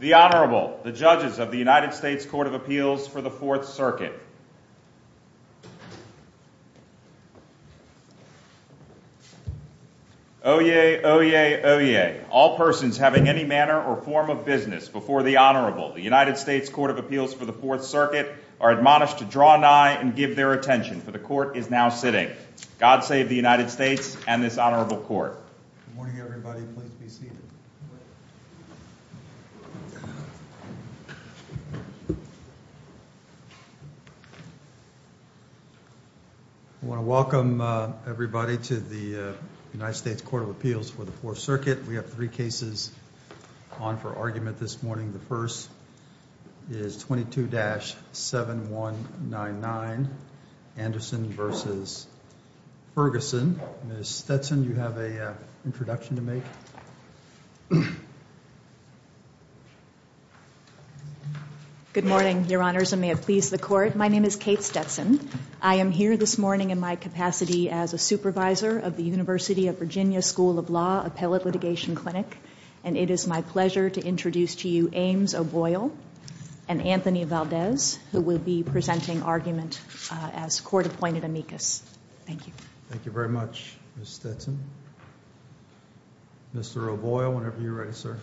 The Honorable, the judges of the United States Court of Appeals for the Fourth Circuit. Oyez, oyez, oyez, all persons having any manner or form of business before the Honorable, the United States Court of Appeals for the Fourth Circuit, are admonished to draw an eye and give their attention, for the Court is now sitting. God save the United States and this Honorable Court. Good morning everybody, please be seated. I want to welcome everybody to the United States Court of Appeals for the Fourth Circuit. We have three cases on for argument this morning. The first is 22-7199, Anderson v. Ferguson. Ms. Stetson, you have an introduction to make. Good morning, Your Honors, and may it please the Court. My name is Kate Stetson. I am here this morning in my capacity as a supervisor of the University of Virginia School of Law Appellate Litigation Clinic, and it is my pleasure to introduce to you Ames O'Boyle and Anthony Valdez, who will be presenting argument as court-appointed amicus. Thank you. Thank you very much, Ms. Stetson. Mr. O'Boyle, whenever you're ready, sir.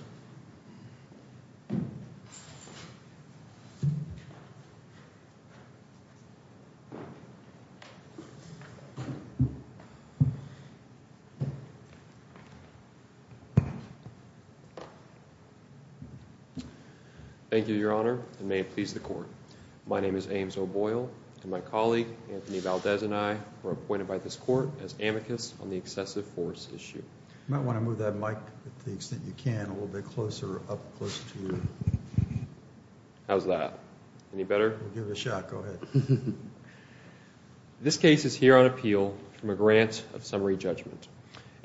Thank you, Your Honor, and may it please the Court. My name is Ames O'Boyle, and my colleague, Anthony Valdez, and I were appointed by this Court as amicus on the excessive force issue. You might want to move that mic to the extent you can, a little bit closer, up close to you. How's that? Any better? We'll give it a shot. Go ahead. This case is here on appeal from a grant of summary judgment.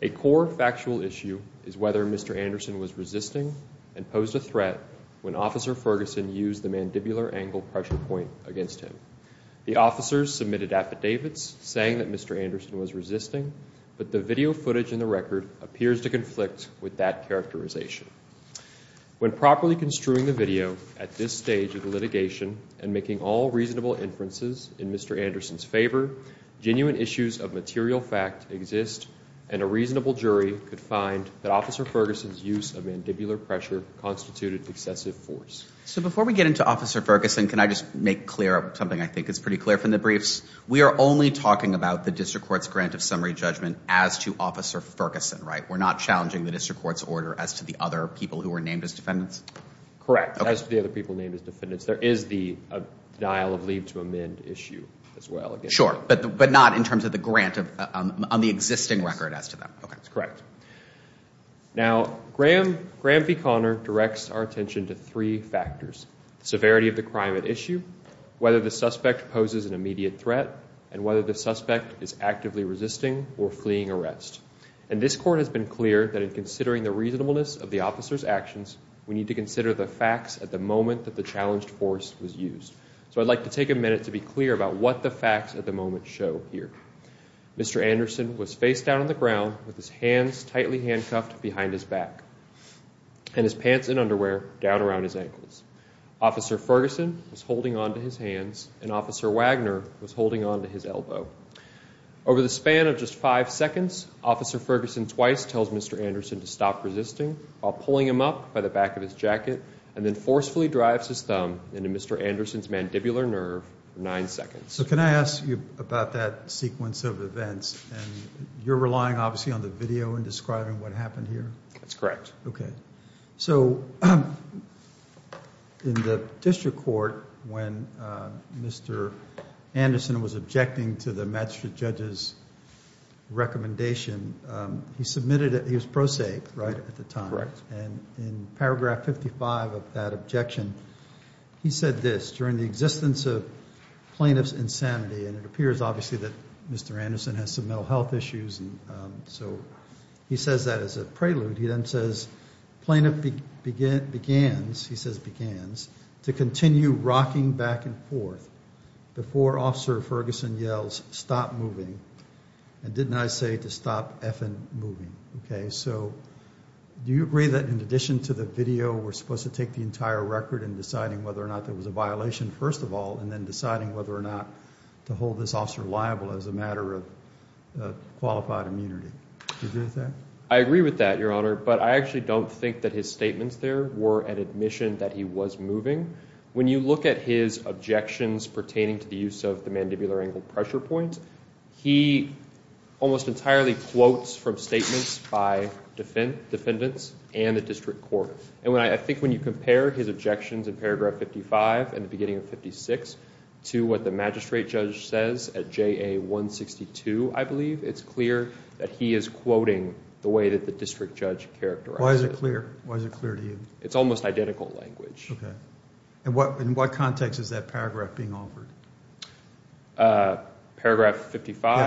A core factual issue is whether Mr. Anderson was resisting and posed a threat when Officer Ferguson used the mandibular angle pressure point against him. The officers submitted affidavits saying that Mr. Anderson was resisting, but the video footage in the record appears to conflict with that characterization. When properly construing the video at this stage of the litigation and making all reasonable inferences in Mr. Anderson's favor, genuine issues of material fact exist, and a reasonable jury could find that Officer Ferguson's use of mandibular pressure constituted excessive force. So before we get into Officer Ferguson, can I just make clear something I think is pretty clear from the briefs? We are only talking about the district court's grant of summary judgment as to Officer Ferguson, right? We're not challenging the district court's order as to the other people who were named as defendants? Correct, as to the other people named as defendants. There is the denial of leave to amend issue as well. Sure, but not in terms of the grant on the existing record as to that. Okay, that's correct. Now, Graham v. Conner directs our attention to three factors, the severity of the crime at issue, whether the suspect poses an immediate threat, and whether the suspect is actively resisting or fleeing arrest. And this Court has been clear that in considering the reasonableness of the officers' actions, we need to consider the facts at the moment that the challenged force was used. So I'd like to take a minute to be clear about what the facts at the moment show here. Mr. Anderson was face down on the ground with his hands tightly handcuffed behind his back and his pants and underwear down around his ankles. Officer Ferguson was holding on to his hands and Officer Wagner was holding on to his elbow. Over the span of just five seconds, Officer Ferguson twice tells Mr. Anderson to stop resisting while pulling him up by the back of his jacket and then forcefully drives his thumb into Mr. Anderson's mandibular nerve for nine seconds. So can I ask you about that sequence of events? And you're relying, obviously, on the video in describing what happened here? That's correct. So in the district court, when Mr. Anderson was objecting to the magistrate judge's recommendation, he was pro se, right, at the time. Correct. And in paragraph 55 of that objection, he said this, during the existence of plaintiff's insanity, and it appears, obviously, that Mr. Anderson has some mental health issues, and so he says that as a prelude. He then says, Plaintiff begins, he says begins, to continue rocking back and forth before Officer Ferguson yells, stop moving. And didn't I say to stop effing moving? Okay. So do you agree that in addition to the video, we're supposed to take the entire record in deciding whether or not there was a violation, first of all, and then deciding whether or not to hold this officer liable as a matter of qualified immunity? Do you agree with that? I agree with that, Your Honor, but I actually don't think that his statements there were an admission that he was moving. When you look at his objections pertaining to the use of the mandibular angle pressure point, he almost entirely quotes from statements by defendants and the district court. And I think when you compare his objections in paragraph 55 and the beginning of 56 to what the magistrate judge says at JA 162, I believe, it's clear that he is quoting the way that the district judge characterized it. Why is it clear? Why is it clear to you? It's almost identical language. Okay. In what context is that paragraph being offered? Paragraph 55?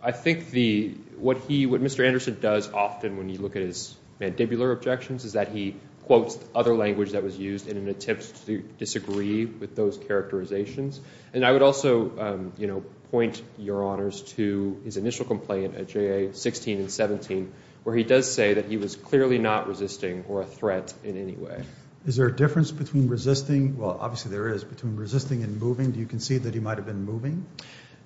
I think what Mr. Anderson does often when you look at his mandibular objections is that he quotes other language that was used in an attempt to disagree with those characterizations. And I would also point, Your Honors, to his initial complaint at JA 16 and 17 where he does say that he was clearly not resisting or a threat in any way. Is there a difference between resisting? Well, obviously there is. Between resisting and moving, do you concede that he might have been moving?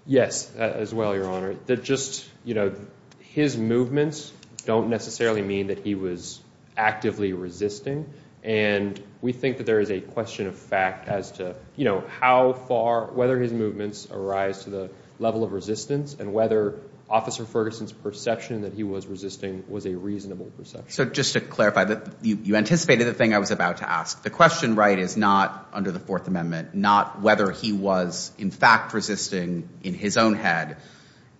Yes, as well, Your Honor. Just, you know, his movements don't necessarily mean that he was actively resisting. And we think that there is a question of fact as to, you know, how far, whether his movements arise to the level of resistance and whether Officer Ferguson's perception that he was resisting was a reasonable perception. So just to clarify, you anticipated the thing I was about to ask. The question, right, is not under the Fourth Amendment, not whether he was in fact resisting in his own head.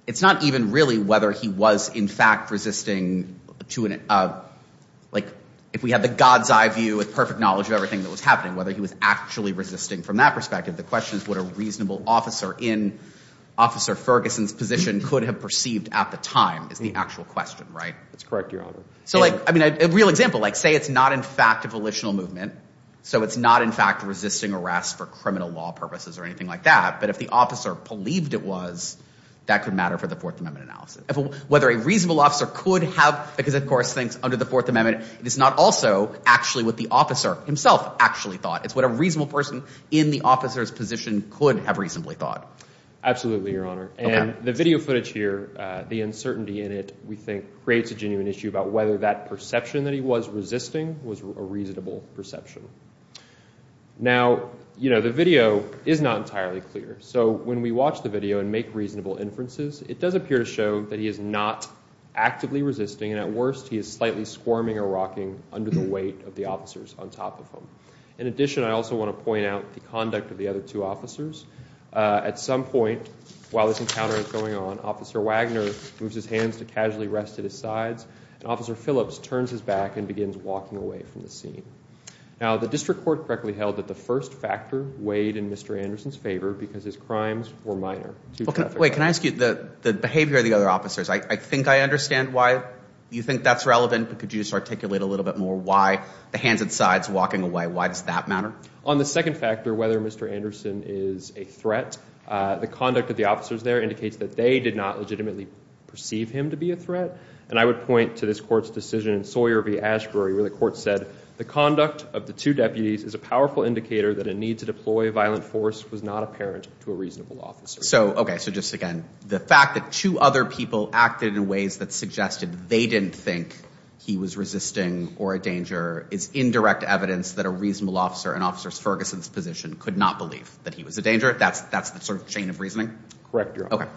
It's not even really whether he was in fact resisting to, like, if we have the God's eye view with perfect knowledge of everything that was happening, whether he was actually resisting from that perspective. The question is what a reasonable officer in Officer Ferguson's position could have perceived at the time is the actual question, right? That's correct, Your Honor. So, like, I mean, a real example, like, say it's not in fact a volitional movement, so it's not in fact resisting arrest for criminal law purposes or anything like that, but if the officer believed it was, that could matter for the Fourth Amendment analysis. Whether a reasonable officer could have, because, of course, things under the Fourth Amendment is not also actually what the officer himself actually thought. It's what a reasonable person in the officer's position could have reasonably thought. Absolutely, Your Honor. And the video footage here, the uncertainty in it, we think, creates a genuine issue about whether that perception that he was resisting was a reasonable perception. Now, you know, the video is not entirely clear, so when we watch the video and make reasonable inferences, it does appear to show that he is not actively resisting, and at worst he is slightly squirming or rocking under the weight of the officers on top of him. In addition, I also want to point out the conduct of the other two officers. At some point while this encounter is going on, Officer Wagner moves his hands to casually rest at his sides, and Officer Phillips turns his back and begins walking away from the scene. Now, the district court correctly held that the first factor weighed in Mr. Anderson's favor because his crimes were minor. Wait, can I ask you, the behavior of the other officers, I think I understand why you think that's relevant, but could you just articulate a little bit more why the hands and sides walking away, why does that matter? On the second factor, whether Mr. Anderson is a threat, the conduct of the officers there indicates that they did not legitimately perceive him to be a threat, and I would point to this court's decision in Sawyer v. Ashbury where the court said the conduct of the two deputies is a powerful indicator that a need to deploy a violent force was not apparent to a reasonable officer. So, okay, so just again, the fact that two other people acted in ways that suggested they didn't think he was resisting or a danger is indirect evidence that a reasonable officer in Officer Ferguson's position could not believe that he was a danger. That's the sort of chain of reasoning? Correct, Your Honor.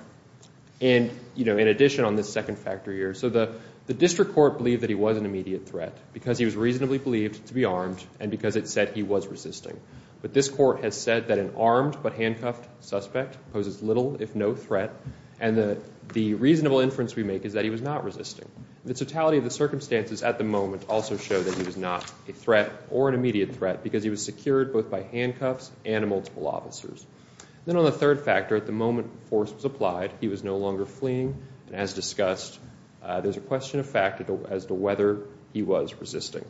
And, you know, in addition on this second factor here, so the district court believed that he was an immediate threat because he was reasonably believed to be armed and because it said he was resisting. But this court has said that an armed but handcuffed suspect poses little if no threat, and the reasonable inference we make is that he was not resisting. The totality of the circumstances at the moment also show that he was not a threat or an immediate threat because he was secured both by handcuffs and multiple officers. Then on the third factor, at the moment force was applied, he was no longer fleeing, and as discussed, there's a question of fact as to whether he was resisting.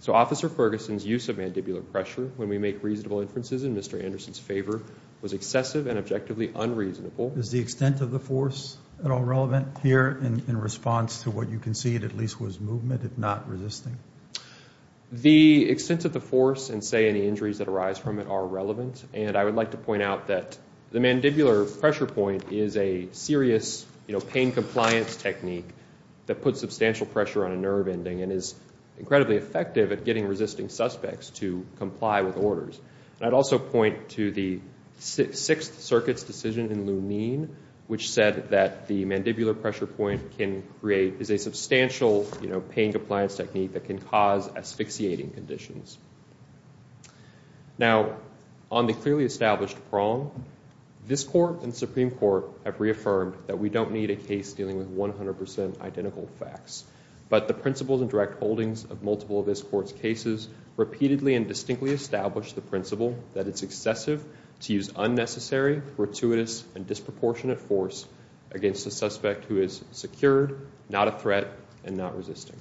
So Officer Ferguson's use of mandibular pressure when we make reasonable inferences in Mr. Anderson's favor was excessive and objectively unreasonable. Is the extent of the force at all relevant here in response to what you concede at least was movement, if not resisting? The extent of the force and, say, any injuries that arise from it are relevant, and I would like to point out that the mandibular pressure point is a serious, you know, pain compliance technique that puts substantial pressure on a nerve ending and is incredibly effective at getting resisting suspects to comply with orders. And I'd also point to the Sixth Circuit's decision in Lunine which said that the mandibular pressure point can create is a substantial, you know, pain compliance technique that can cause asphyxiating conditions. Now, on the clearly established prong, this Court and Supreme Court have reaffirmed that we don't need a case dealing with 100% identical facts. But the principles and direct holdings of multiple of this Court's cases repeatedly and distinctly establish the principle that it's excessive to use unnecessary, gratuitous, and disproportionate force against a suspect who is secured, not a threat, and not resisting.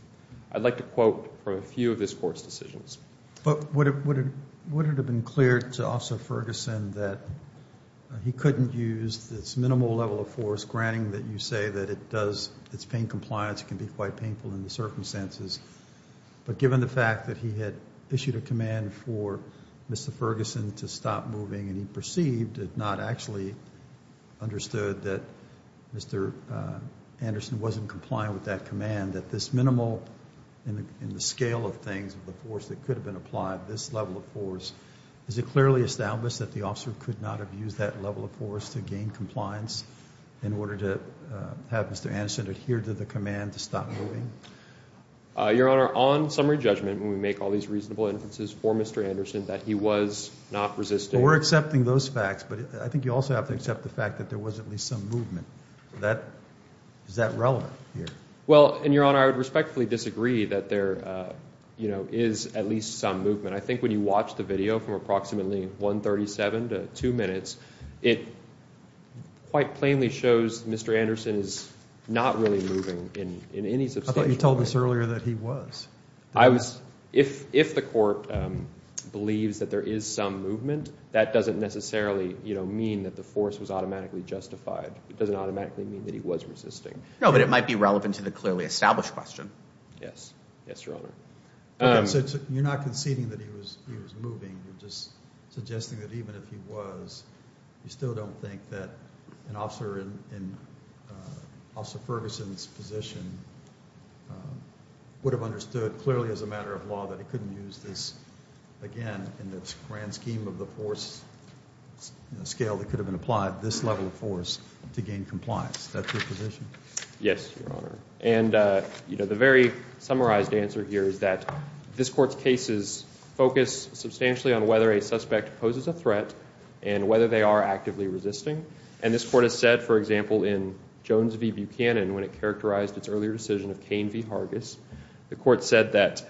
I'd like to quote from a few of this Court's decisions. But would it have been clear to Officer Ferguson that he couldn't use this minimal level of force, granting that you say that it does, its pain compliance can be quite painful in the circumstances, but given the fact that he had issued a command for Mr. Ferguson to stop moving and he perceived and not actually understood that Mr. Anderson wasn't compliant with that command, that this minimal in the scale of things of the force that could have been applied, this level of force, is it clearly established that the officer could not have used that level of force to gain compliance in order to have Mr. Anderson adhere to the command to stop moving? Your Honor, on summary judgment, when we make all these reasonable inferences for Mr. Anderson, that he was not resisting. We're accepting those facts, but I think you also have to accept the fact that there was at least some movement. Is that relevant here? Well, Your Honor, I would respectfully disagree that there is at least some movement. I think when you watch the video from approximately 1.37 to 2 minutes, it quite plainly shows Mr. Anderson is not really moving in any substantial way. I thought you told us earlier that he was. If the court believes that there is some movement, that doesn't necessarily mean that the force was automatically justified. It doesn't automatically mean that he was resisting. No, but it might be relevant to the clearly established question. Yes. Yes, Your Honor. So you're not conceding that he was moving. You're just suggesting that even if he was, you still don't think that an officer in Officer Ferguson's position would have understood clearly as a matter of law that he couldn't use this again in the grand scheme of the force scale that could have been applied, this level of force, to gain compliance. That's your position? Yes, Your Honor. And, you know, the very summarized answer here is that this court's cases focus substantially on whether a suspect poses a threat and whether they are actively resisting. And this court has said, for example, in Jones v. Buchanan, when it characterized its earlier decision of Cain v. Hargis, the court said that,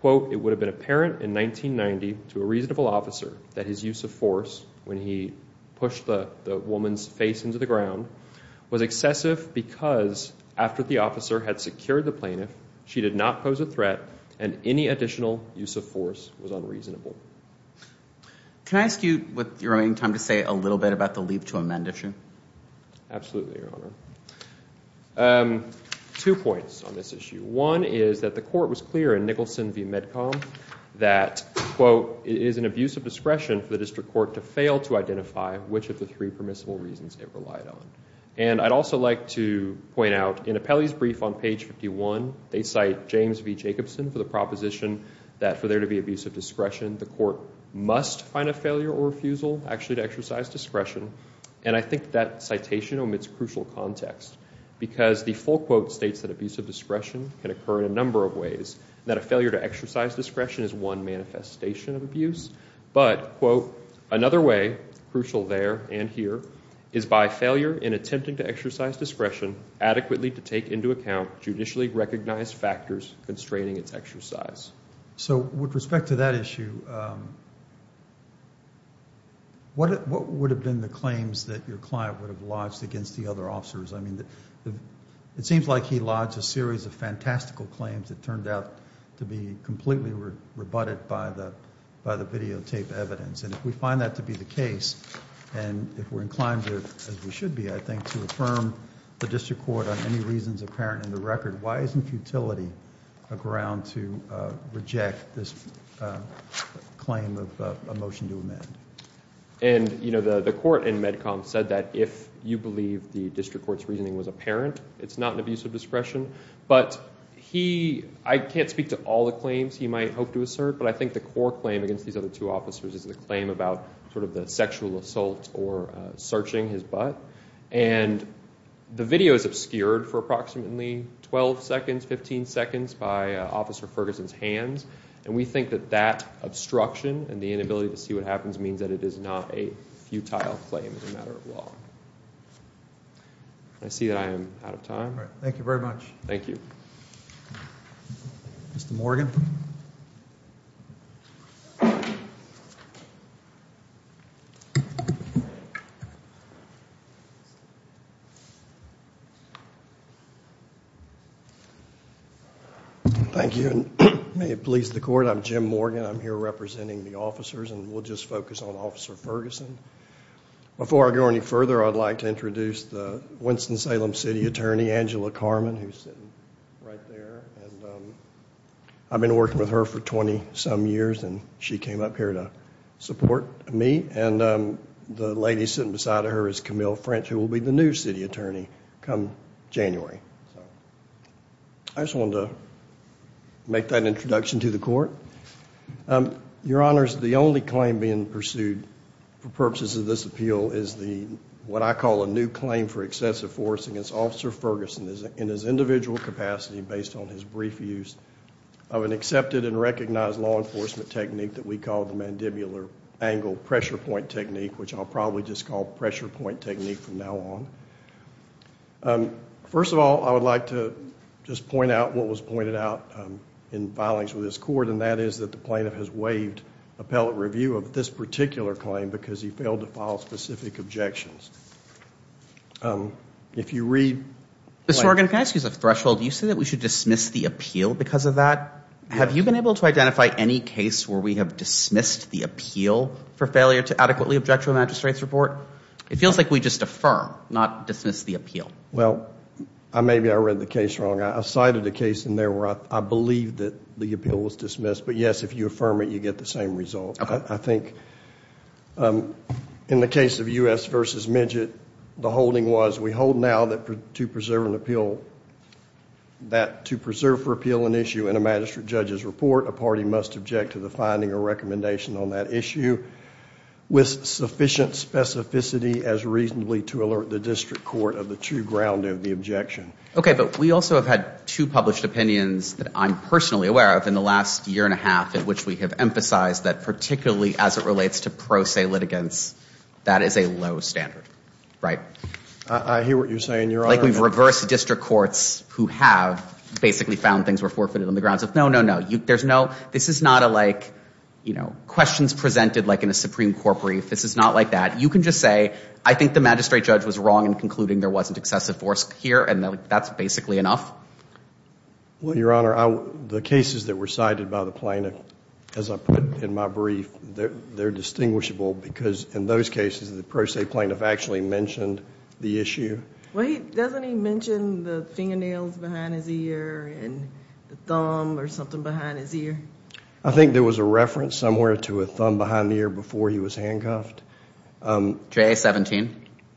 quote, it would have been apparent in 1990 to a reasonable officer that his use of force when he pushed the woman's face into the ground was excessive because after the officer had secured the plaintiff, she did not pose a threat and any additional use of force was unreasonable. Can I ask you with your remaining time to say a little bit about the leave to amend issue? Absolutely, Your Honor. Two points on this issue. One is that the court was clear in Nicholson v. Medcom that, quote, it is an abuse of discretion for the district court to fail to identify which of the three permissible reasons it relied on. And I'd also like to point out in Apelli's brief on page 51, they cite James v. Jacobson for the proposition that for there to be abuse of discretion, the court must find a failure or refusal actually to exercise discretion. And I think that citation omits crucial context because the full quote states that abuse of discretion can occur in a number of ways, and that a failure to exercise discretion is one manifestation of abuse. But, quote, another way, crucial there and here, is by failure in attempting to exercise discretion adequately to take into account judicially recognized factors constraining its exercise. So with respect to that issue, what would have been the claims that your client would have lodged against the other officers? I mean, it seems like he lodged a series of fantastical claims that turned out to be completely rebutted by the videotape evidence. And if we find that to be the case, and if we're inclined to, as we should be, I think, to affirm the district court on any reasons apparent in the record, why isn't futility a ground to reject this claim of a motion to amend? And, you know, the court in MedCom said that if you believe the district court's reasoning was apparent, it's not an abuse of discretion. But he—I can't speak to all the claims he might hope to assert, but I think the core claim against these other two officers is the claim about sort of the sexual assault or searching his butt. And the video is obscured for approximately 12 seconds, 15 seconds by Officer Ferguson's hands. And we think that that obstruction and the inability to see what happens means that it is not a futile claim as a matter of law. I see that I am out of time. All right. Thank you very much. Thank you. Mr. Morgan. Thank you. May it please the court, I'm Jim Morgan. I'm here representing the officers, and we'll just focus on Officer Ferguson. Before I go any further, I'd like to introduce the Winston-Salem City Attorney, Angela Carman, who's sitting right there. I've been working with her for 20-some years, and she came up here to support me. And the lady sitting beside her is Camille French, who will be the new city attorney come January. I just wanted to make that introduction to the court. Your Honors, the only claim being pursued for purposes of this appeal is the, what I call, a new claim for excessive force against Officer Ferguson in his individual capacity based on his brief use of an accepted and recognized law enforcement technique that we call the mandibular angle pressure point technique, which I'll probably just call pressure point technique from now on. First of all, I would like to just point out what was pointed out in filings with this court, and that is that the plaintiff has waived appellate review of this particular claim because he failed to file specific objections. If you read. Mr. Morgan, can I ask you as a threshold, do you say that we should dismiss the appeal because of that? Have you been able to identify any case where we have dismissed the appeal for failure to adequately object to a magistrate's report? It feels like we just affirm, not dismiss the appeal. Well, maybe I read the case wrong. I cited a case in there where I believe that the appeal was dismissed. But, yes, if you affirm it, you get the same result. I think in the case of U.S. v. Midgett, the holding was we hold now that to preserve an appeal, that to preserve for appeal an issue in a magistrate judge's report, a party must object to the finding or recommendation on that issue with sufficient specificity as reasonably to alert the district court of the true ground of the objection. Okay, but we also have had two published opinions that I'm personally aware of in the last year and a half in which we have emphasized that particularly as it relates to pro se litigants, that is a low standard, right? I hear what you're saying, Your Honor. Like we've reversed district courts who have basically found things were forfeited on the grounds of no, no, no. There's no, this is not a like, you know, questions presented like in a Supreme Court brief. This is not like that. You can just say I think the magistrate judge was wrong in concluding there wasn't excessive force here, and that's basically enough. Well, Your Honor, the cases that were cited by the plaintiff, as I put in my brief, they're distinguishable because in those cases the pro se plaintiff actually mentioned the issue. Well, doesn't he mention the fingernails behind his ear and the thumb or something behind his ear? I think there was a reference somewhere to a thumb behind the ear before he was handcuffed. JA-17,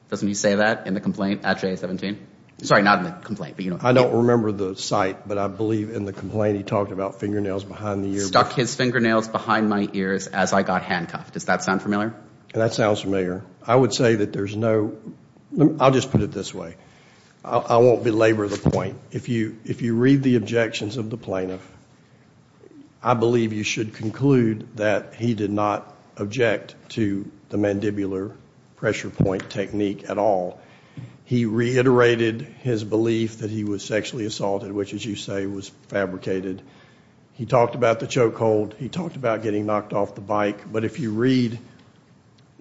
doesn't he say that in the complaint at JA-17? Sorry, not in the complaint, but you know. I don't remember the site, but I believe in the complaint he talked about fingernails behind the ear. Stuck his fingernails behind my ears as I got handcuffed. Does that sound familiar? That sounds familiar. I would say that there's no, I'll just put it this way. I won't belabor the point. If you read the objections of the plaintiff, I believe you should conclude that he did not object to the mandibular pressure point technique at all. He reiterated his belief that he was sexually assaulted, which, as you say, was fabricated. He talked about the choke hold. He talked about getting knocked off the bike. But if you read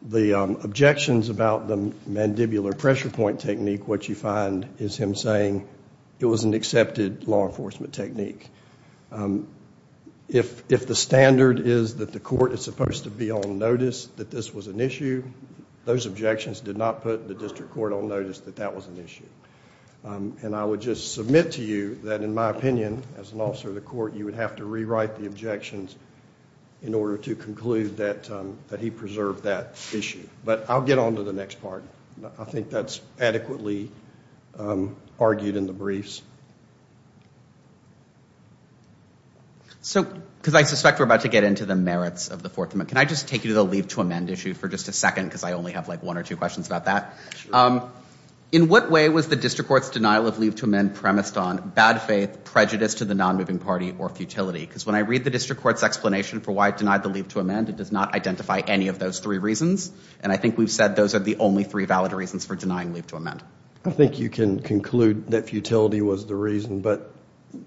the objections about the mandibular pressure point technique, what you find is him saying it was an accepted law enforcement technique. If the standard is that the court is supposed to be on notice that this was an issue, those objections did not put the district court on notice that that was an issue. And I would just submit to you that, in my opinion, as an officer of the court, you would have to rewrite the objections in order to conclude that he preserved that issue. But I'll get on to the next part. I think that's adequately argued in the briefs. So, because I suspect we're about to get into the merits of the Fourth Amendment, can I just take you to the leave to amend issue for just a second because I only have like one or two questions about that? Sure. In what way was the district court's denial of leave to amend premised on bad faith, prejudice to the nonmoving party, or futility? Because when I read the district court's explanation for why it denied the leave to amend, it does not identify any of those three reasons. And I think we've said those are the only three valid reasons for denying leave to amend. I think you can conclude that futility was the reason. But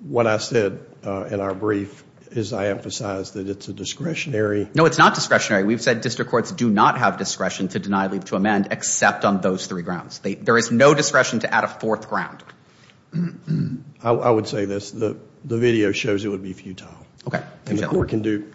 what I said in our brief is I emphasized that it's a discretionary. No, it's not discretionary. We've said district courts do not have discretion to deny leave to amend except on those three grounds. There is no discretion to add a fourth ground. I would say this. The video shows it would be futile. You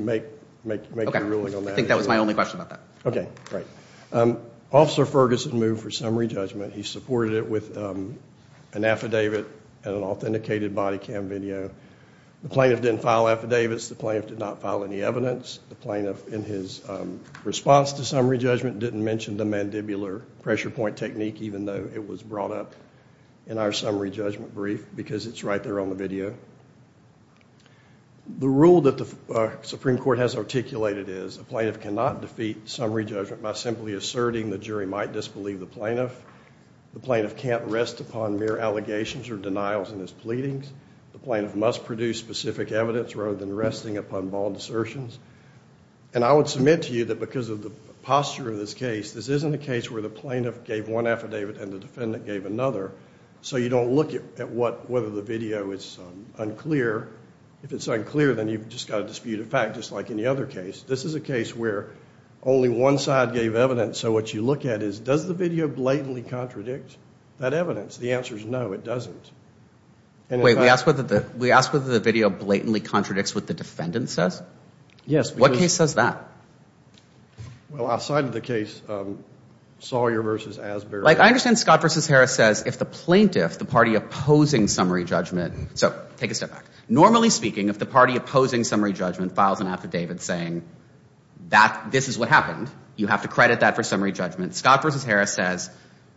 make your ruling on that. Okay. I think that was my only question about that. Okay. Great. Officer Ferguson moved for summary judgment. He supported it with an affidavit and an authenticated body cam video. The plaintiff didn't file affidavits. The plaintiff did not file any evidence. The plaintiff in his response to summary judgment didn't mention the mandibular pressure point technique, even though it was brought up in our summary judgment brief because it's right there on the video. The rule that the Supreme Court has articulated is a plaintiff cannot defeat summary judgment by simply asserting the jury might disbelieve the plaintiff. The plaintiff can't rest upon mere allegations or denials in his pleadings. The plaintiff must produce specific evidence rather than resting upon bald assertions. And I would submit to you that because of the posture of this case, this isn't a case where the plaintiff gave one affidavit and the defendant gave another, so you don't look at whether the video is unclear. If it's unclear, then you've just got to dispute a fact, just like any other case. This is a case where only one side gave evidence, so what you look at is does the video blatantly contradict that evidence? The answer is no, it doesn't. Wait, we asked whether the video blatantly contradicts what the defendant says? Yes. What case says that? Well, outside of the case, Sawyer v. Asbury. I understand Scott v. Harris says if the plaintiff, the party opposing summary judgment, so take a step back. Normally speaking, if the party opposing summary judgment files an affidavit saying this is what happened, you have to credit that for summary judgment. Scott v. Harris says,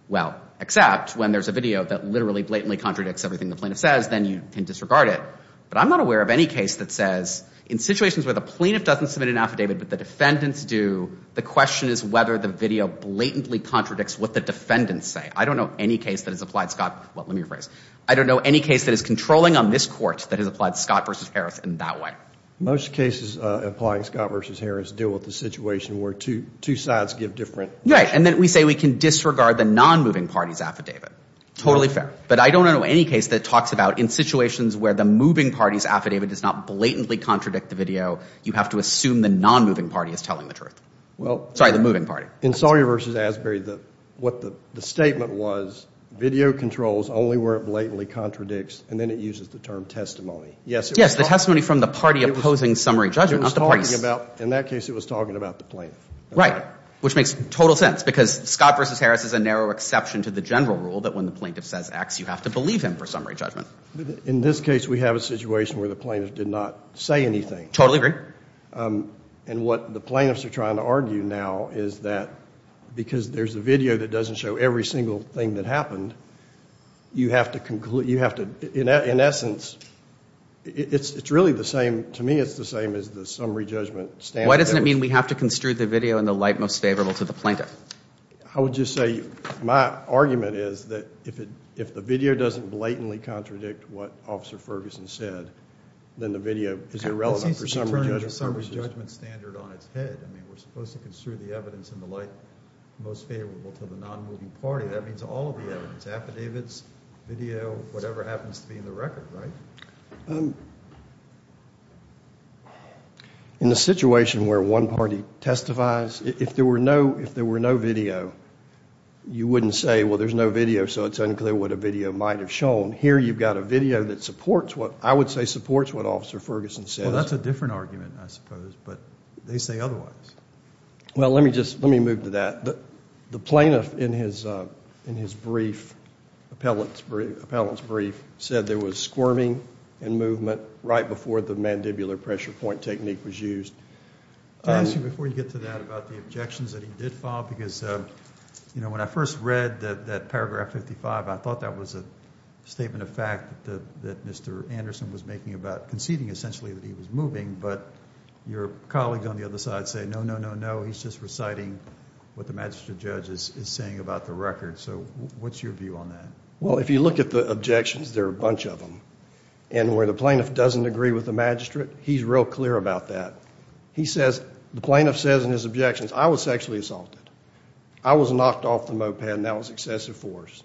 well, except when there's a video that literally blatantly contradicts everything the plaintiff says, then you can disregard it. But I'm not aware of any case that says in situations where the plaintiff doesn't submit an affidavit but the defendants do, the question is whether the video blatantly contradicts what the defendants say. I don't know any case that has applied Scott, well, let me rephrase, I don't know any case that is controlling on this Court that has applied Scott v. Harris in that way. Most cases applying Scott v. Harris deal with the situation where two sides give different. Right, and then we say we can disregard the nonmoving party's affidavit. Totally fair. But I don't know any case that talks about in situations where the moving party's affidavit does not blatantly contradict the video, you have to assume the nonmoving party is telling the truth. Sorry, the moving party. In Sawyer v. Asbury, what the statement was, video controls only where it blatantly contradicts, and then it uses the term testimony. Yes, the testimony from the party opposing summary judgment, not the parties. In that case, it was talking about the plaintiff. Right, which makes total sense because Scott v. Harris is a narrow exception to the general rule that when the plaintiff says X, you have to believe him for summary judgment. In this case, we have a situation where the plaintiff did not say anything. Totally agree. And what the plaintiffs are trying to argue now is that because there's a video that doesn't show every single thing that happened, you have to conclude, you have to, in essence, it's really the same, to me it's the same as the summary judgment standard. Why doesn't it mean we have to construe the video in the light most favorable to the plaintiff? I would just say my argument is that if the video doesn't blatantly contradict what Officer Ferguson said, then the video is irrelevant for summary judgment purposes. This is turning the summary judgment standard on its head. I mean, we're supposed to construe the evidence in the light most favorable to the nonmoving party. That means all of the evidence, affidavits, video, whatever happens to be in the record, right? In the situation where one party testifies, if there were no video, you wouldn't say, well, there's no video, so it's unclear what a video might have shown. Here you've got a video that supports what, I would say supports what Officer Ferguson said. Well, that's a different argument, I suppose, but they say otherwise. Well, let me just, let me move to that. The plaintiff in his brief, appellant's brief, said there was squirming and movement right before the mandibular pressure point technique was used. Can I ask you before you get to that about the objections that he did file? Because, you know, when I first read that paragraph 55, I thought that was a statement of fact that Mr. Anderson was making about conceding essentially that he was moving, but your colleague on the other side said, no, no, no, no, he's just reciting what the magistrate judge is saying about the record. So what's your view on that? Well, if you look at the objections, there are a bunch of them. And where the plaintiff doesn't agree with the magistrate, he's real clear about that. He says, the plaintiff says in his objections, I was sexually assaulted. I was knocked off the moped and that was excessive force.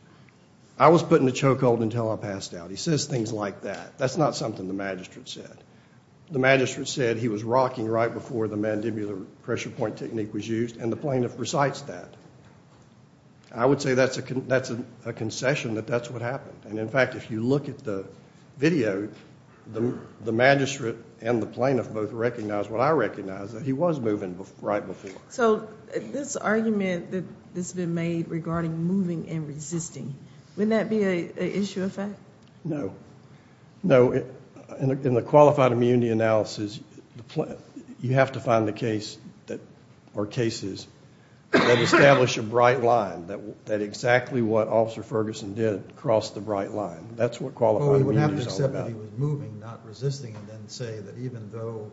I was put in a chokehold until I passed out. He says things like that. That's not something the magistrate said. The magistrate said he was rocking right before the mandibular pressure point technique was used, and the plaintiff recites that. I would say that's a concession that that's what happened. And, in fact, if you look at the video, the magistrate and the plaintiff both recognize what I recognize, that he was moving right before. So this argument that's been made regarding moving and resisting, wouldn't that be an issue of fact? No. No. In the qualified immunity analysis, you have to find the case or cases that establish a bright line, that exactly what Officer Ferguson did crossed the bright line. That's what qualified immunity is all about. Well, you would have to accept that he was moving, not resisting, and then say that even though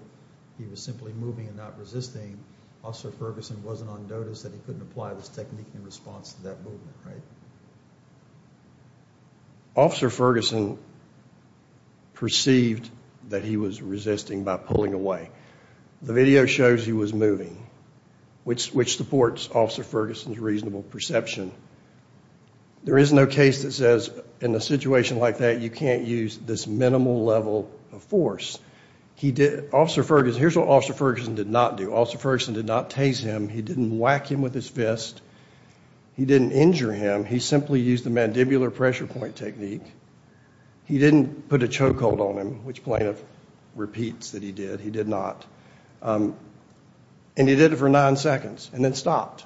he was simply moving and not resisting, Officer Ferguson wasn't on notice that he couldn't apply this technique in response to that movement, right? Officer Ferguson perceived that he was resisting by pulling away. The video shows he was moving, which supports Officer Ferguson's reasonable perception. There is no case that says in a situation like that you can't use this minimal level of force. Here's what Officer Ferguson did not do. Officer Ferguson did not tase him. He didn't whack him with his fist. He didn't injure him. He simply used the mandibular pressure point technique. He didn't put a choke hold on him, which plaintiff repeats that he did. He did not. And he did it for nine seconds and then stopped.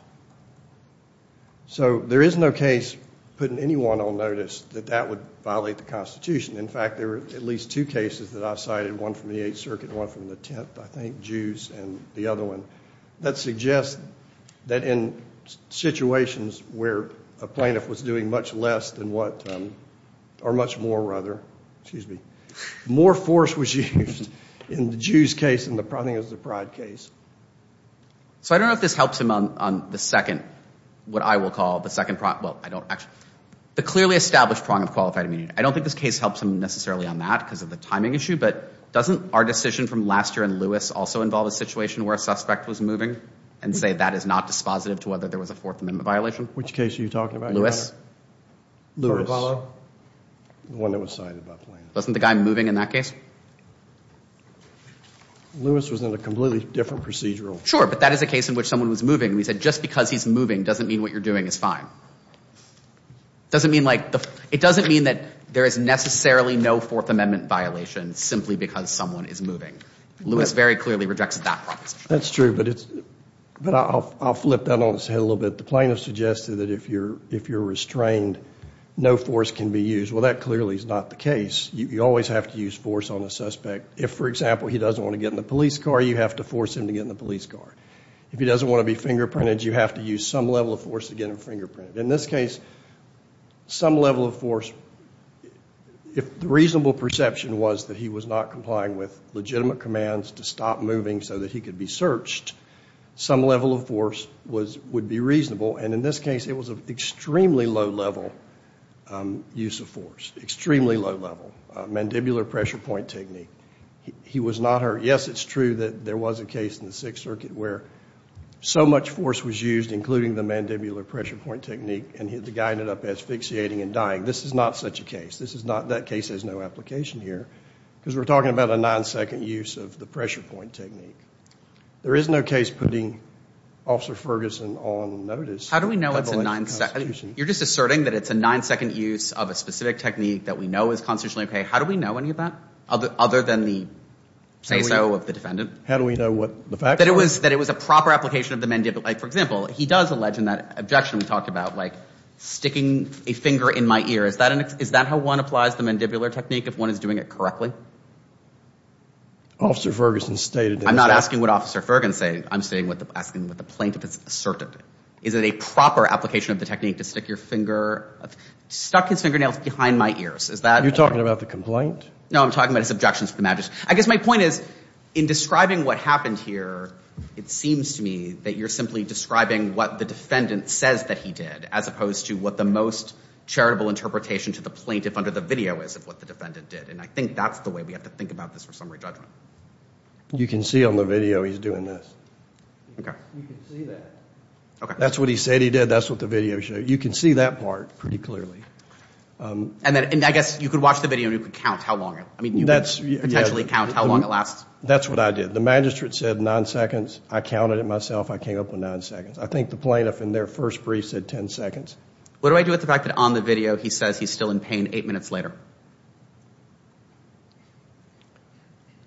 So there is no case putting anyone on notice that that would violate the Constitution. In fact, there are at least two cases that I've cited, one from the Eighth Circuit and one from the Tenth, I think, that suggest that in situations where a plaintiff was doing much less than what, or much more, rather, excuse me, more force was used in the Jews case than I think it was the Pride case. So I don't know if this helps him on the second, what I will call the second, well, I don't actually, the clearly established prong of qualified immunity. I don't think this case helps him necessarily on that because of the timing issue, but doesn't our decision from last year in Lewis also involve a situation where a suspect was moving and say that is not dispositive to whether there was a Fourth Amendment violation? Which case are you talking about, Your Honor? Lewis. The one that was cited by Plaintiff. Wasn't the guy moving in that case? Lewis was in a completely different procedural. Sure, but that is a case in which someone was moving. We said just because he's moving doesn't mean what you're doing is fine. It doesn't mean like, it doesn't mean that there is necessarily no Fourth Amendment violation simply because someone is moving. Lewis very clearly rejects that proposition. That's true, but I'll flip that on its head a little bit. The plaintiff suggested that if you're restrained, no force can be used. Well, that clearly is not the case. You always have to use force on a suspect. If, for example, he doesn't want to get in the police car, you have to force him to get in the police car. If he doesn't want to be fingerprinted, you have to use some level of force to get him fingerprinted. In this case, some level of force. If the reasonable perception was that he was not complying with legitimate commands to stop moving so that he could be searched, some level of force would be reasonable. And in this case, it was an extremely low level use of force, extremely low level. Mandibular pressure point technique. He was not hurt. Yes, it's true that there was a case in the Sixth Circuit where so much force was used, including the mandibular pressure point technique, and the guy ended up asphyxiating and dying. This is not such a case. That case has no application here because we're talking about a nine-second use of the pressure point technique. There is no case putting Officer Ferguson on notice. How do we know it's a nine-second? You're just asserting that it's a nine-second use of a specific technique that we know is constitutionally okay. How do we know any of that other than the say-so of the defendant? How do we know what the facts are? That it was a proper application of the mandibular. Like, for example, he does allege in that objection we talked about, like, sticking a finger in my ear. Is that how one applies the mandibular technique if one is doing it correctly? Officer Ferguson stated that it's a— I'm not asking what Officer Ferguson said. I'm asking what the plaintiff has asserted. Is it a proper application of the technique to stick your finger—stuck his fingernails behind my ears? You're talking about the complaint? No, I'm talking about his objections to the magistrate. I guess my point is in describing what happened here, it seems to me that you're simply describing what the defendant says that he did as opposed to what the most charitable interpretation to the plaintiff under the video is of what the defendant did. And I think that's the way we have to think about this for summary judgment. You can see on the video he's doing this. Okay. You can see that. Okay. That's what he said he did. That's what the video shows. You can see that part pretty clearly. And I guess you could watch the video and you could count how long it—I mean, you could potentially count how long it lasts. That's what I did. The magistrate said nine seconds. I counted it myself. I came up with nine seconds. I think the plaintiff in their first brief said ten seconds. What do I do with the fact that on the video he says he's still in pain eight minutes later?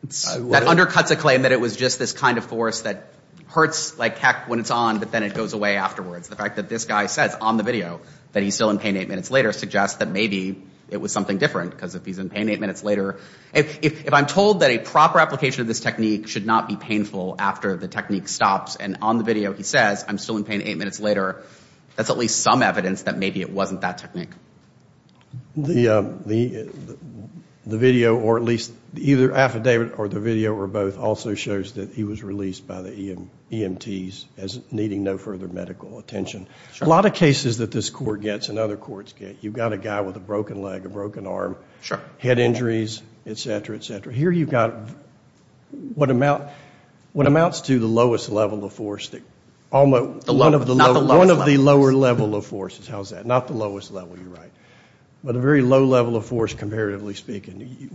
That undercuts a claim that it was just this kind of force that hurts like heck when it's on, but then it goes away afterwards. The fact that this guy says on the video that he's still in pain eight minutes later suggests that maybe it was something different because if he's in pain eight minutes later— if I'm told that a proper application of this technique should not be painful after the technique stops and on the video he says I'm still in pain eight minutes later, that's at least some evidence that maybe it wasn't that technique. The video, or at least either affidavit or the video or both, also shows that he was released by the EMTs as needing no further medical attention. A lot of cases that this court gets and other courts get, you've got a guy with a broken leg, a broken arm, head injuries, et cetera, et cetera. Here you've got what amounts to the lowest level of force. One of the lower level of forces. How's that? Not the lowest level, you're right. But a very low level of force comparatively speaking.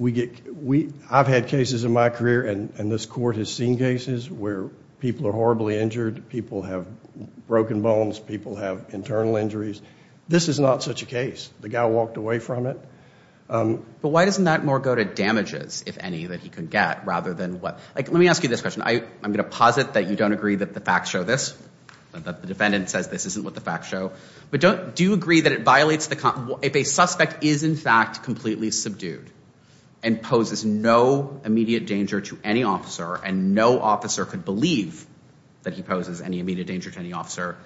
I've had cases in my career and this court has seen cases where people are horribly injured, people have broken bones, people have internal injuries. This is not such a case. The guy walked away from it. But why doesn't that more go to damages, if any, that he could get rather than what— let me ask you this question. I'm going to posit that you don't agree that the facts show this, that the defendant says this isn't what the facts show. But do you agree that it violates the—if a suspect is in fact completely subdued and poses no immediate danger to any officer and no officer could believe that he poses any immediate danger to any officer,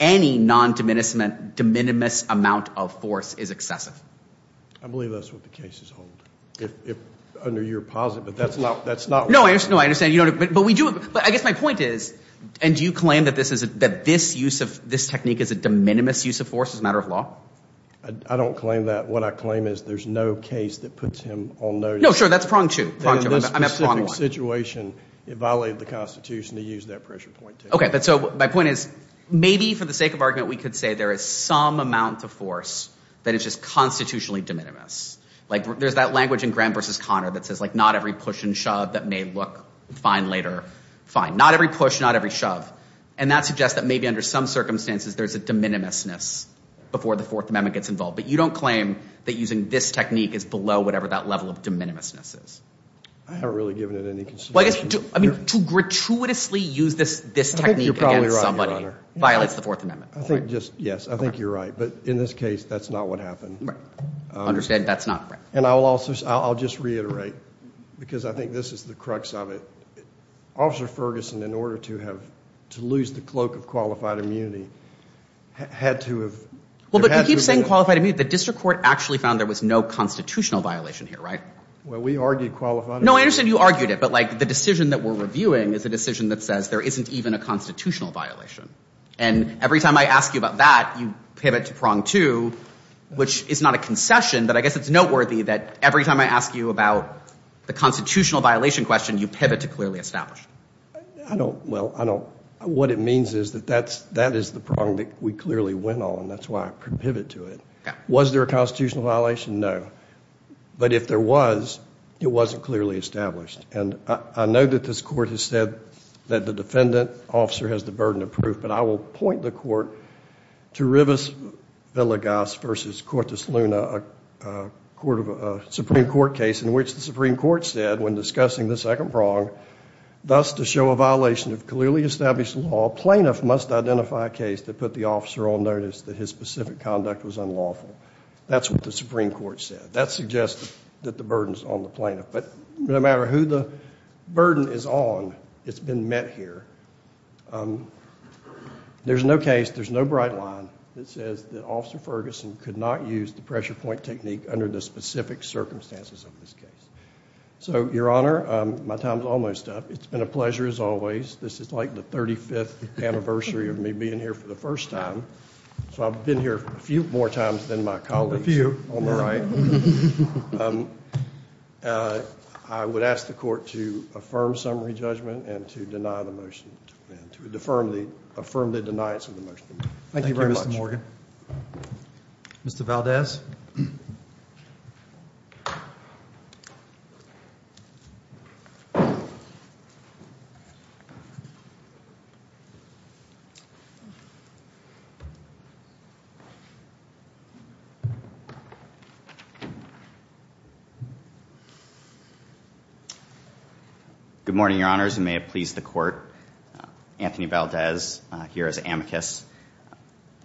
any non-de minimis amount of force is excessive? I believe that's what the cases hold. Under your posit, but that's not— No, I understand. But I guess my point is, and do you claim that this technique is a de minimis use of force as a matter of law? I don't claim that. What I claim is there's no case that puts him on notice. No, sure, that's prong two. In this specific situation, it violated the Constitution to use that pressure point. Okay, but so my point is, maybe for the sake of argument, we could say there is some amount of force that is just constitutionally de minimis. Like there's that language in Graham v. Conner that says, like, not every push and shove that may look fine later, fine. Not every push, not every shove. And that suggests that maybe under some circumstances, there's a de minimisness before the Fourth Amendment gets involved. But you don't claim that using this technique is below whatever that level of de minimisness is? I haven't really given it any consideration. I mean, to gratuitously use this technique against somebody violates the Fourth Amendment. I think just—yes, I think you're right. But in this case, that's not what happened. I understand that's not right. And I'll just reiterate, because I think this is the crux of it. Officer Ferguson, in order to have—to lose the cloak of qualified immunity, had to have— Well, but you keep saying qualified immunity. The district court actually found there was no constitutional violation here, right? Well, we argued qualified immunity. No, I understand you argued it. But, like, the decision that we're reviewing is a decision that says there isn't even a constitutional violation. And every time I ask you about that, you pivot to prong two, which is not a concession, but I guess it's noteworthy that every time I ask you about the constitutional violation question, you pivot to clearly established. I don't—well, I don't—what it means is that that is the prong that we clearly went on. That's why I pivot to it. Was there a constitutional violation? No. But if there was, it wasn't clearly established. And I know that this Court has said that the defendant, officer, has the burden of proof. But I will point the Court to Rivas Villegas v. Cortez Luna, a Supreme Court case in which the Supreme Court said, when discussing the second prong, thus to show a violation of clearly established law, plaintiff must identify a case that put the officer on notice that his specific conduct was unlawful. That's what the Supreme Court said. That suggests that the burden's on the plaintiff. But no matter who the burden is on, it's been met here. There's no case, there's no bright line that says that Officer Ferguson could not use the pressure point technique under the specific circumstances of this case. So, Your Honor, my time's almost up. It's been a pleasure as always. This is like the 35th anniversary of me being here for the first time. So I've been here a few more times than my colleagues. A few. On the right. I would ask the Court to affirm summary judgment and to affirm the deniance of the motion. Thank you very much. Mr. Valdez. Good morning, Your Honors. You may have pleased the Court. Anthony Valdez here as amicus.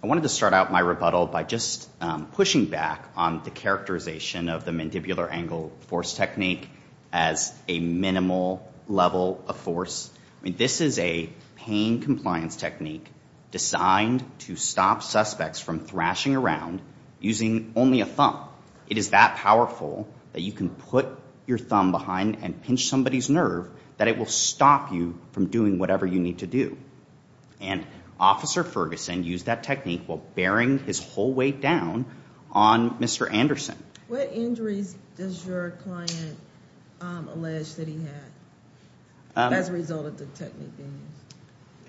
I wanted to start out my rebuttal by just pushing back on the characterization of the mandibular angle force technique as a minimal level of force. This is a pain compliance technique designed to stop suspects from thrashing around using only a thumb. It is that powerful that you can put your thumb behind and pinch somebody's nerve that it will stop you from doing whatever you need to do. And Officer Ferguson used that technique while bearing his whole weight down on Mr. Anderson. What injuries does your client allege that he had as a result of the technique being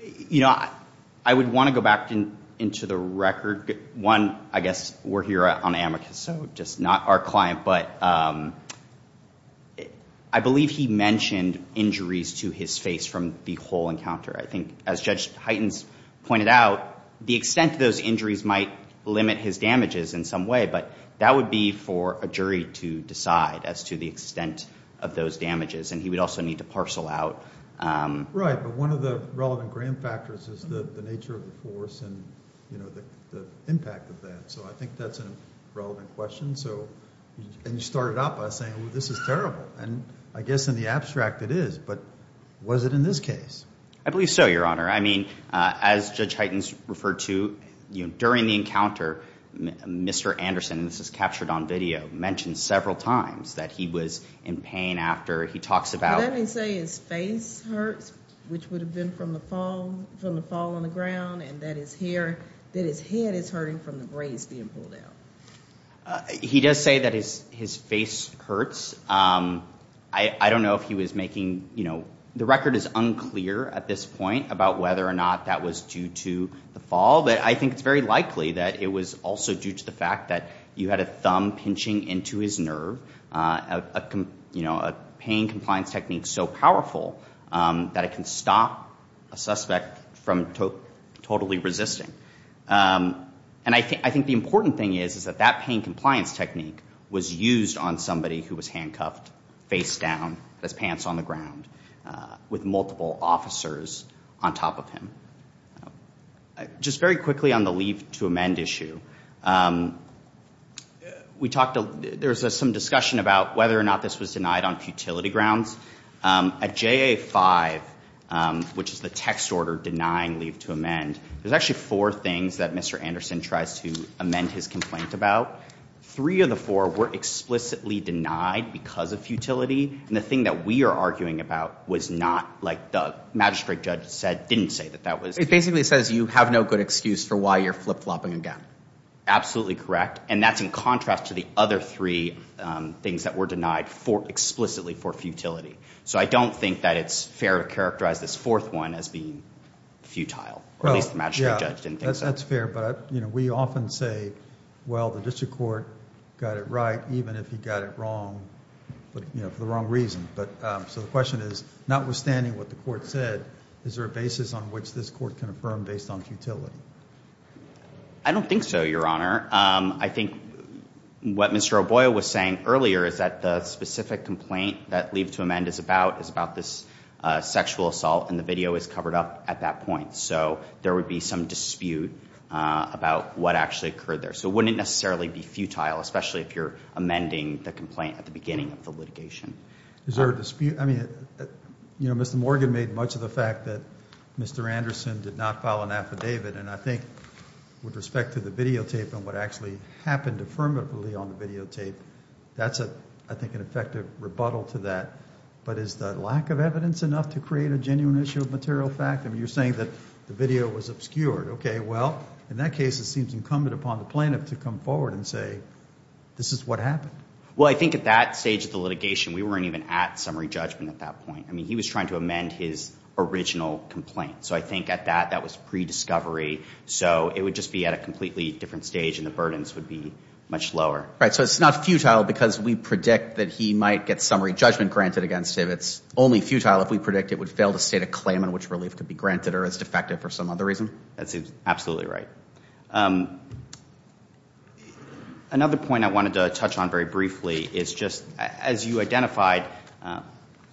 used? You know, I would want to go back into the record. One, I guess, we're here on amicus, so just not our client, but I believe he mentioned injuries to his face from the whole encounter. I think, as Judge Heitens pointed out, the extent of those injuries might limit his damages in some way, but that would be for a jury to decide as to the extent of those damages, and he would also need to parcel out. Right, but one of the relevant grand factors is the nature of the force and, you know, the impact of that. So I think that's a relevant question. And you started out by saying, well, this is terrible. And I guess in the abstract it is, but was it in this case? I believe so, Your Honor. I mean, as Judge Heitens referred to, during the encounter, Mr. Anderson, and this is captured on video, mentioned several times that he was in pain after. Let me say his face hurts, which would have been from the fall on the ground, and that his head is hurting from the braids being pulled out. He does say that his face hurts. I don't know if he was making, you know, the record is unclear at this point about whether or not that was due to the fall, but I think it's very likely that it was also due to the fact that you had a thumb pinching into his nerve, you know, a pain compliance technique so powerful that it can stop a suspect from totally resisting. And I think the important thing is that that pain compliance technique was used on somebody who was handcuffed, face down, his pants on the ground, with multiple officers on top of him. Just very quickly on the leave to amend issue, we talked to, there was some discussion about whether or not this was denied on futility grounds. At JA-5, which is the text order denying leave to amend, there's actually four things that Mr. Anderson tries to amend his complaint about. Three of the four were explicitly denied because of futility, and the thing that we are arguing about was not, like the magistrate judge said, didn't say that that was. It basically says you have no good excuse for why you're flip-flopping again. Absolutely correct. And that's in contrast to the other three things that were denied explicitly for futility. So I don't think that it's fair to characterize this fourth one as being futile, or at least the magistrate judge didn't think so. That's fair. But, you know, we often say, well, the district court got it right even if he got it wrong, you know, for the wrong reason. But so the question is, notwithstanding what the court said, is there a basis on which this court can affirm based on futility? I don't think so, Your Honor. I think what Mr. O'Boyle was saying earlier is that the specific complaint that leave to amend is about, is about this sexual assault, and the video is covered up at that point. So there would be some dispute about what actually occurred there. So it wouldn't necessarily be futile, especially if you're amending the complaint at the beginning of the litigation. Is there a dispute? I mean, you know, Mr. Morgan made much of the fact that Mr. Anderson did not file an affidavit, and I think with respect to the videotape and what actually happened affirmatively on the videotape, that's, I think, an effective rebuttal to that. But is the lack of evidence enough to create a genuine issue of material fact? I mean, you're saying that the video was obscured. Okay, well, in that case, it seems incumbent upon the plaintiff to come forward and say, this is what happened. Well, I think at that stage of the litigation, we weren't even at summary judgment at that point. I mean, he was trying to amend his original complaint. So I think at that, that was pre-discovery. So it would just be at a completely different stage, and the burdens would be much lower. Right, so it's not futile because we predict that he might get summary judgment granted against him. It's only futile if we predict it would fail to state a claim on which relief could be granted that are as defective for some other reason? That's absolutely right. Another point I wanted to touch on very briefly is just, as you identified,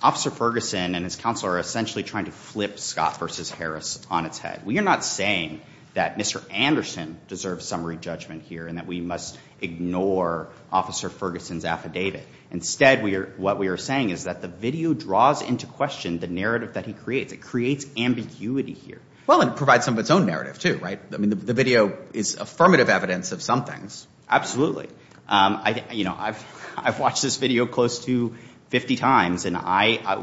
Officer Ferguson and his counsel are essentially trying to flip Scott v. Harris on its head. We are not saying that Mr. Anderson deserves summary judgment here and that we must ignore Officer Ferguson's affidavit. Instead, what we are saying is that the video draws into question the narrative that he creates. It creates ambiguity here. Well, and it provides some of its own narrative, too, right? I mean, the video is affirmative evidence of some things. I've watched this video close to 50 times, and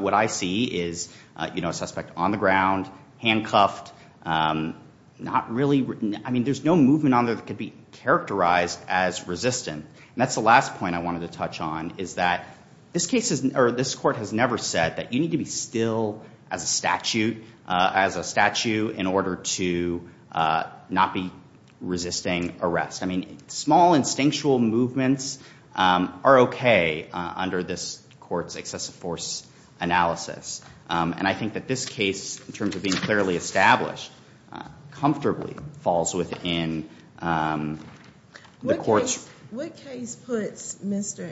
what I see is a suspect on the ground, handcuffed, not really— I mean, there's no movement on there that could be characterized as resistant. And that's the last point I wanted to touch on, is that this court has never said that you need to be still as a statute in order to not be resisting arrest. I mean, small, instinctual movements are okay under this court's excessive force analysis. And I think that this case, in terms of being clearly established, comfortably falls within the court's— What case puts Mr.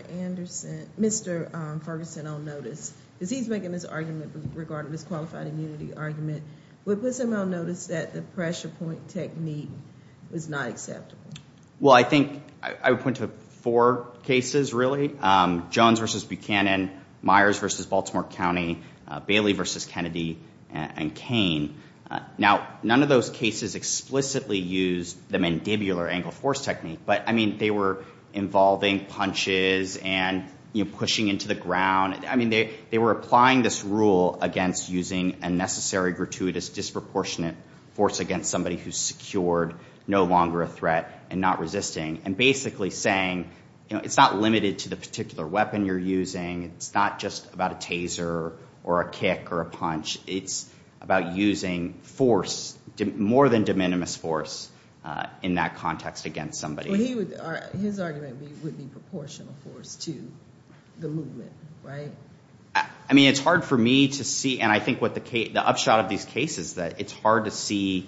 Ferguson on notice? Because he's making this argument regarding his qualified immunity argument. What puts him on notice that the pressure point technique was not acceptable? Well, I think I would point to four cases, really. Jones v. Buchanan, Myers v. Baltimore County, Bailey v. Kennedy, and Kane. Now, none of those cases explicitly used the mandibular angle force technique, but, I mean, they were involving punches and, you know, pushing into the ground. I mean, they were applying this rule against using a necessary, gratuitous, disproportionate force against somebody who's secured, no longer a threat, and not resisting, and basically saying, you know, it's not limited to the particular weapon you're using. It's not just about a taser or a kick or a punch. It's about using force, more than de minimis force, in that context against somebody. His argument would be proportional force to the movement, right? I mean, it's hard for me to see, and I think the upshot of these cases, that it's hard to see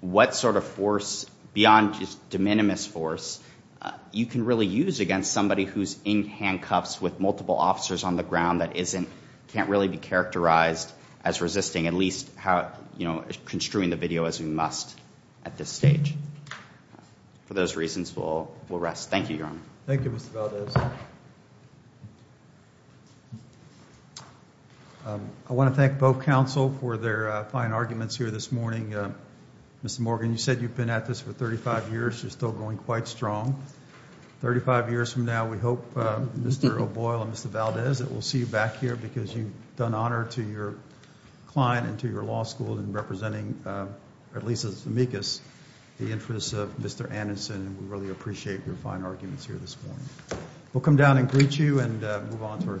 what sort of force, beyond just de minimis force, you can really use against somebody who's in handcuffs with multiple officers on the ground that isn't, can't really be characterized as resisting, at least how, you know, construing the video as we must at this stage. For those reasons, we'll rest. Thank you, Your Honor. Thank you, Mr. Valdez. I want to thank both counsel for their fine arguments here this morning. Mr. Morgan, you said you've been at this for 35 years. You're still going quite strong. 35 years from now, we hope Mr. O'Boyle and Mr. Valdez that we'll see you back here because you've done honor to your client and to your law school in representing, at least as amicus, the interests of Mr. Anderson, and we really appreciate your fine arguments here this morning. We'll come down and greet you and move on to our second case.